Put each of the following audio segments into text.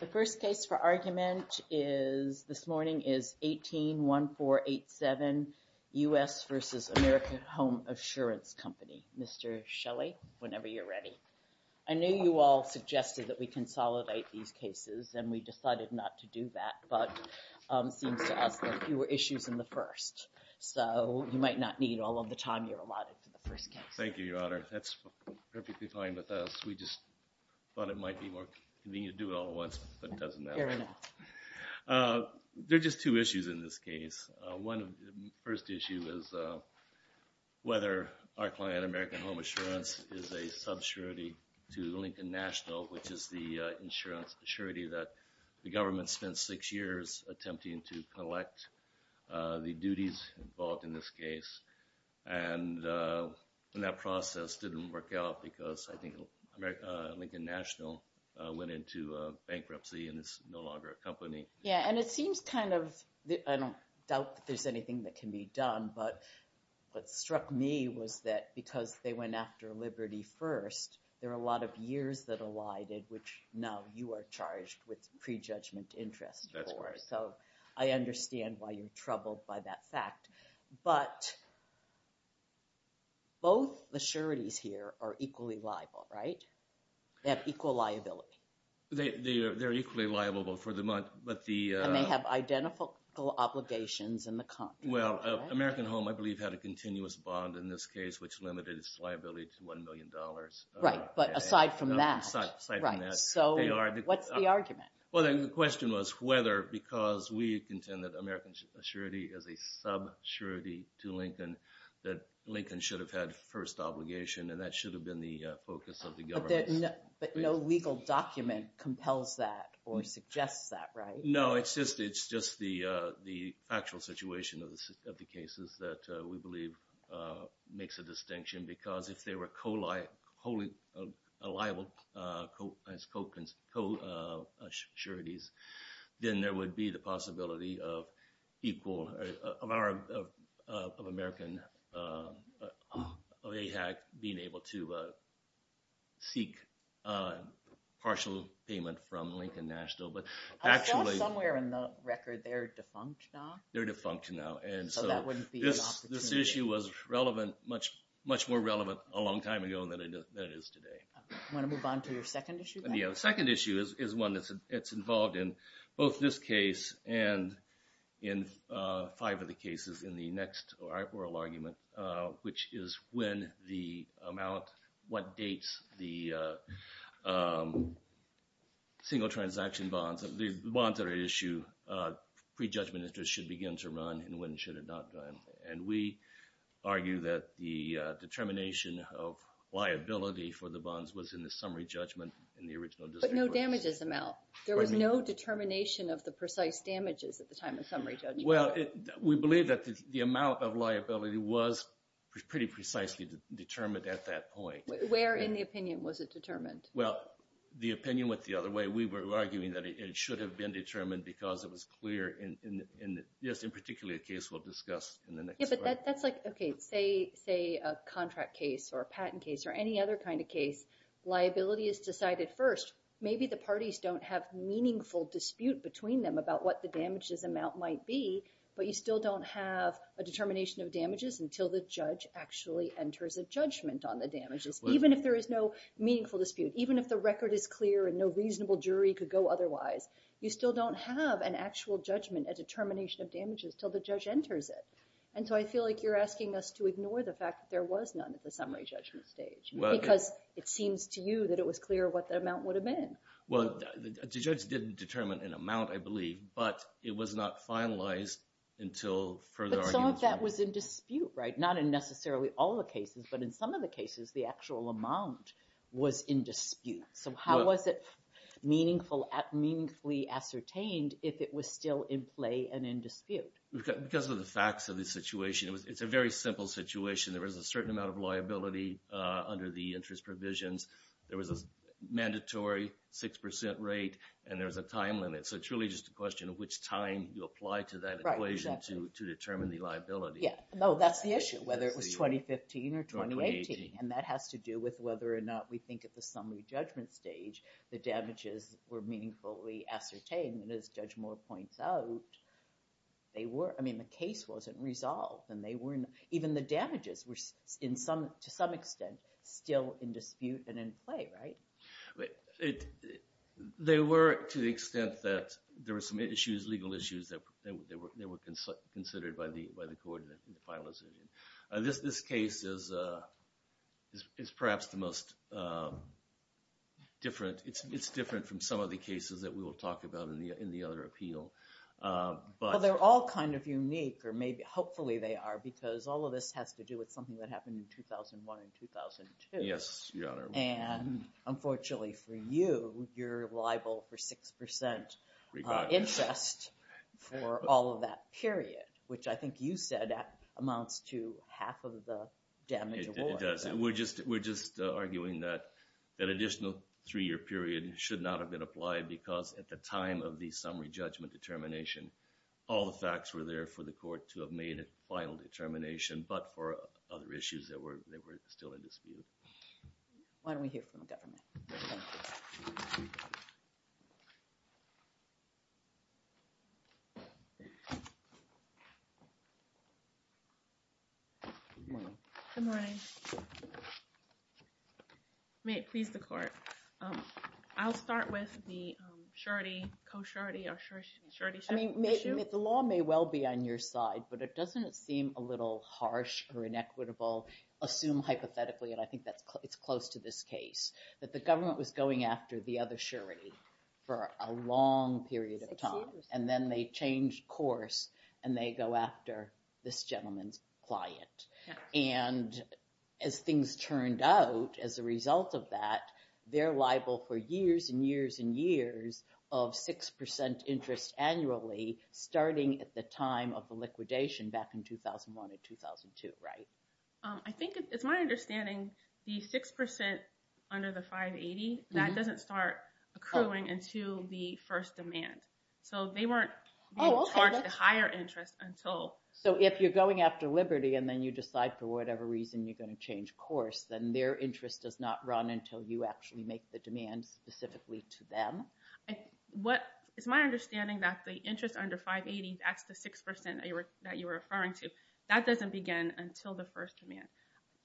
The first case for argument this morning is 18-1487 U.S. v. American Home Assurance Company. Mr. Shelley, whenever you're ready. I know you all suggested that we consolidate these cases, and we decided not to do that, but it seems to us that you were issues in the first, so you might not need all of the time you're allotted for the first case. Thank you, Your Honor. That's perfectly fine with us. We just thought it might be more convenient to do it all at once, but it doesn't matter. Fair enough. There are just two issues in this case. One first issue is whether our client, American Home Assurance, is a subsurety to Lincoln National, which is the insurance surety that the government spent six years attempting to collect the duties involved in this case. And that process didn't work out because I think Lincoln National went into bankruptcy and is no longer a company. Yeah, and it seems kind of – I don't doubt that there's anything that can be done, but what struck me was that because they went after Liberty first, there were a lot of years that elided, which now you are charged with prejudgment interest for. That's correct. So I understand why you're troubled by that fact. But both the sureties here are equally liable, right? They have equal liability. They're equally liable for the month, but the – And they have identical obligations in the contract, right? Well, American Home, I believe, had a continuous bond in this case, which limited its liability to $1 million. Right, but aside from that – Aside from that, they are – So what's the argument? Well, the question was whether because we contend that American surety is a sub-surety to Lincoln, that Lincoln should have had first obligation, and that should have been the focus of the government. But no legal document compels that or suggests that, right? No, it's just the factual situation of the cases that we believe makes a distinction because if they were liable as co-sureties, then there would be the possibility of equal – of American AHAC being able to seek partial payment from Lincoln National. But actually – I saw somewhere in the record they're defunct now. They're defunct now. So that wouldn't be an opportunity. This issue was relevant – much more relevant a long time ago than it is today. Want to move on to your second issue? The second issue is one that's involved in both this case and in five of the cases in the next oral argument, which is when the amount – what dates the single transaction bonds – the bonds that are at issue pre-judgment interest should begin to run and when should it not run. And we argue that the determination of liability for the bonds was in the summary judgment in the original – But no damages amount. There was no determination of the precise damages at the time of summary judgment. Well, we believe that the amount of liability was pretty precisely determined at that point. Where in the opinion was it determined? Well, the opinion went the other way. We were arguing that it should have been determined because it was clear in – Yeah, but that's like – okay, say a contract case or a patent case or any other kind of case, liability is decided first. Maybe the parties don't have meaningful dispute between them about what the damages amount might be, but you still don't have a determination of damages until the judge actually enters a judgment on the damages. Even if there is no meaningful dispute, even if the record is clear and no reasonable jury could go otherwise, you still don't have an actual judgment, a determination of damages, until the judge enters it. And so I feel like you're asking us to ignore the fact that there was none at the summary judgment stage. Because it seems to you that it was clear what the amount would have been. Well, the judge didn't determine an amount, I believe, but it was not finalized until further – But some of that was in dispute, right? Not in necessarily all the cases, but in some of the cases the actual amount was in dispute. So how was it meaningfully ascertained if it was still in play and in dispute? Because of the facts of the situation, it's a very simple situation. There was a certain amount of liability under the interest provisions. There was a mandatory 6% rate, and there was a time limit. So it's really just a question of which time you apply to that equation to determine the liability. Yeah, no, that's the issue, whether it was 2015 or 2018. And that has to do with whether or not we think at the summary judgment stage the damages were meaningfully ascertained. And as Judge Moore points out, they were – I mean, the case wasn't resolved. And they weren't – even the damages were, to some extent, still in dispute and in play, right? They were to the extent that there were some issues, legal issues, that were considered by the court in the final decision. This case is perhaps the most different. It's different from some of the cases that we will talk about in the other appeal. Well, they're all kind of unique, or maybe – hopefully they are, because all of this has to do with something that happened in 2001 and 2002. Yes, Your Honor. And unfortunately for you, you're liable for 6% interest for all of that period, which I think you said amounts to half of the damage award. It does. We're just arguing that an additional three-year period should not have been applied because at the time of the summary judgment determination, all the facts were there for the court to have made a final determination, but for other issues that were still in dispute. Why don't we hear from the government? Thank you. Good morning. Good morning. May it please the court. I'll start with the shorty, co-shorty, or shorty-shorty issue. I mean, the law may well be on your side, but doesn't it seem a little harsh or inequitable, assume hypothetically, and I think it's close to this case, that the government was going after the other shorty for a long period of time, and then they changed course and they go after this gentleman's client. And as things turned out as a result of that, they're liable for years and years and years of 6% interest annually starting at the time of the liquidation back in 2001 and 2002, right? I think, it's my understanding, the 6% under the 580, that doesn't start accruing until the first demand. So they weren't charged a higher interest until. So if you're going after Liberty and then you decide for whatever reason you're going to change course, then their interest does not run until you actually make the demand specifically to them? It's my understanding that the interest under 580, that's the 6% that you were referring to, that doesn't begin until the first demand.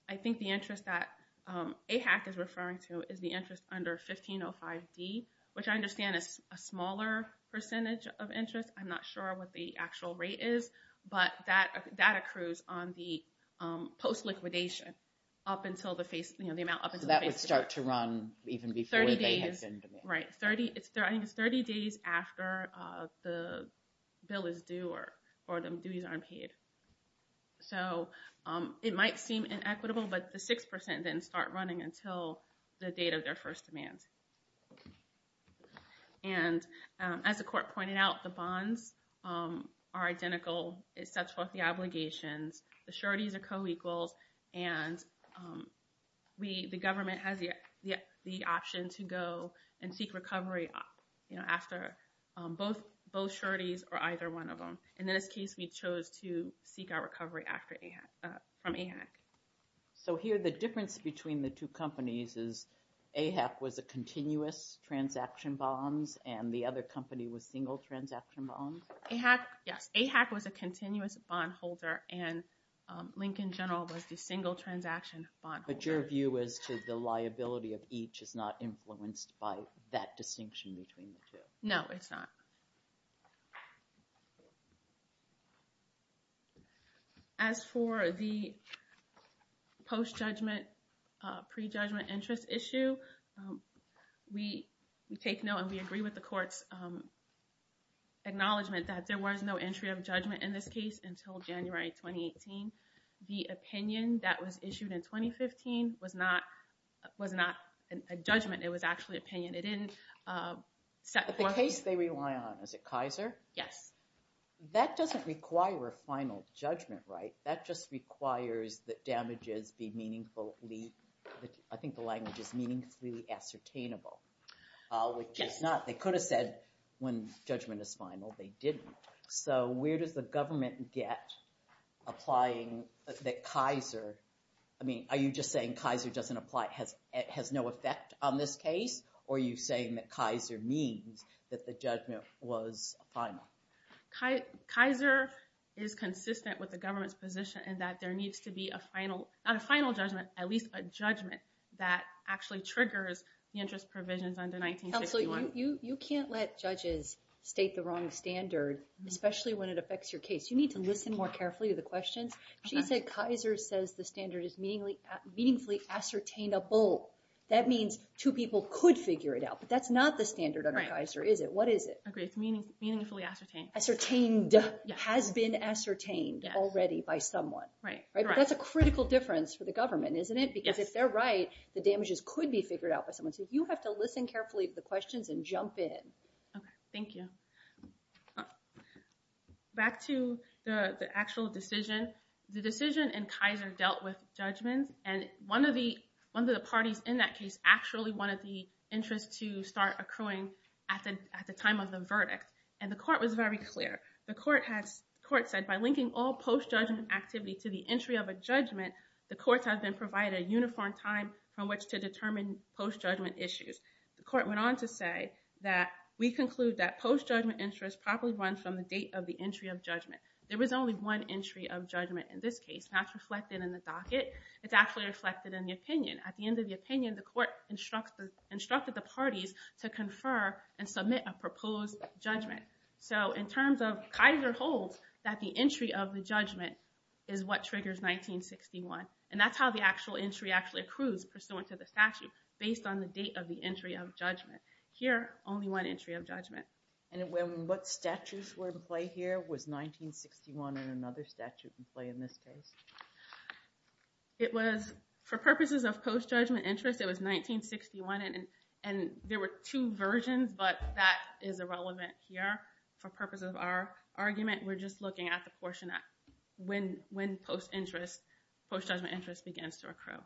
I think the interest that AHAC is referring to is the interest under 1505D, which I understand is a smaller percentage of interest. I'm not sure what the actual rate is, but that accrues on the post-liquidation up until the face, you know, the amount up until the face. And it might start to run even before they have been demanded. Right. I think it's 30 days after the bill is due or the duties aren't paid. So it might seem inequitable, but the 6% then start running until the date of their first demand. And as the court pointed out, the bonds are identical. It sets forth the obligations. The sureties are co-equals. And the government has the option to go and seek recovery after both sureties or either one of them. In this case, we chose to seek our recovery from AHAC. So here, the difference between the two companies is AHAC was a continuous transaction bonds and the other company was single transaction bonds? Yes, AHAC was a continuous bond holder and Lincoln General was the single transaction bond holder. But your view as to the liability of each is not influenced by that distinction between the two? No, it's not. As for the post-judgment, pre-judgment interest issue, we take note and we agree with the court's acknowledgement that there was no entry of judgment in this case until January 2018. The opinion that was issued in 2015 was not a judgment. It was actually opinion. But the case they rely on, is it Kaiser? Yes. That doesn't require a final judgment, right? That just requires that damages be meaningfully, I think the language is meaningfully ascertainable. Yes. Which is not, they could have said when judgment is final, they didn't. So where does the government get applying that Kaiser, I mean, are you just saying Kaiser doesn't apply, it has no effect on this case? Or are you saying that Kaiser means that the judgment was final? Kaiser is consistent with the government's position in that there needs to be a final, not a final judgment, at least a judgment that actually triggers the interest provisions under 1961. Counsel, you can't let judges state the wrong standard, especially when it affects your case. You need to listen more carefully to the questions. She said Kaiser says the standard is meaningfully ascertainable. That means two people could figure it out. But that's not the standard under Kaiser, is it? What is it? It's meaningfully ascertained. Ascertained, has been ascertained already by someone. Right. That's a critical difference for the government, isn't it? Because if they're right, the damages could be figured out by someone. So you have to listen carefully to the questions and jump in. Okay, thank you. Back to the actual decision. The decision in Kaiser dealt with judgments, and one of the parties in that case actually wanted the interest to start accruing at the time of the verdict. And the court was very clear. The court said by linking all post-judgment activity to the entry of a judgment, the courts have been provided a uniform time from which to determine post-judgment issues. The court went on to say that we conclude that post-judgment interest probably runs from the date of the entry of judgment. There was only one entry of judgment in this case, and that's reflected in the docket. It's actually reflected in the opinion. At the end of the opinion, the court instructed the parties to confer and submit a proposed judgment. So in terms of Kaiser holds that the entry of the judgment is what triggers 1961, and that's how the actual entry actually accrues pursuant to the statute, based on the date of the entry of judgment. Here, only one entry of judgment. And what statutes were in play here? Was 1961 and another statute in play in this case? It was, for purposes of post-judgment interest, it was 1961, and there were two versions, but that is irrelevant here. For purposes of our argument, we're just looking at the portion when post-judgment interest begins to accrue.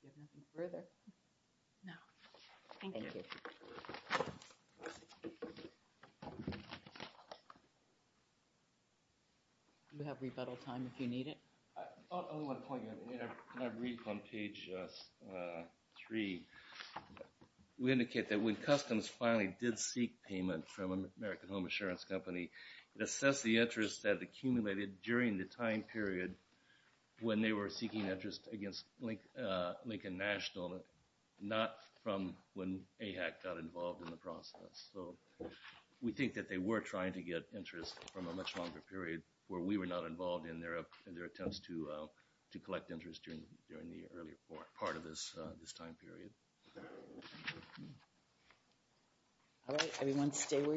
Do you have anything further? No. Thank you. You have rebuttal time if you need it. I have one point. When I read from page three, we indicate that when customs finally did seek payment from American Home Assurance Company, it assessed the interest that accumulated during the time period when they were seeking interest against Lincoln National, not from when AHAC got involved in the process. So we think that they were trying to get interest from a much longer period where we were not involved in their attempts to collect interest during the earlier part of this time period. All right, everyone stay where you are.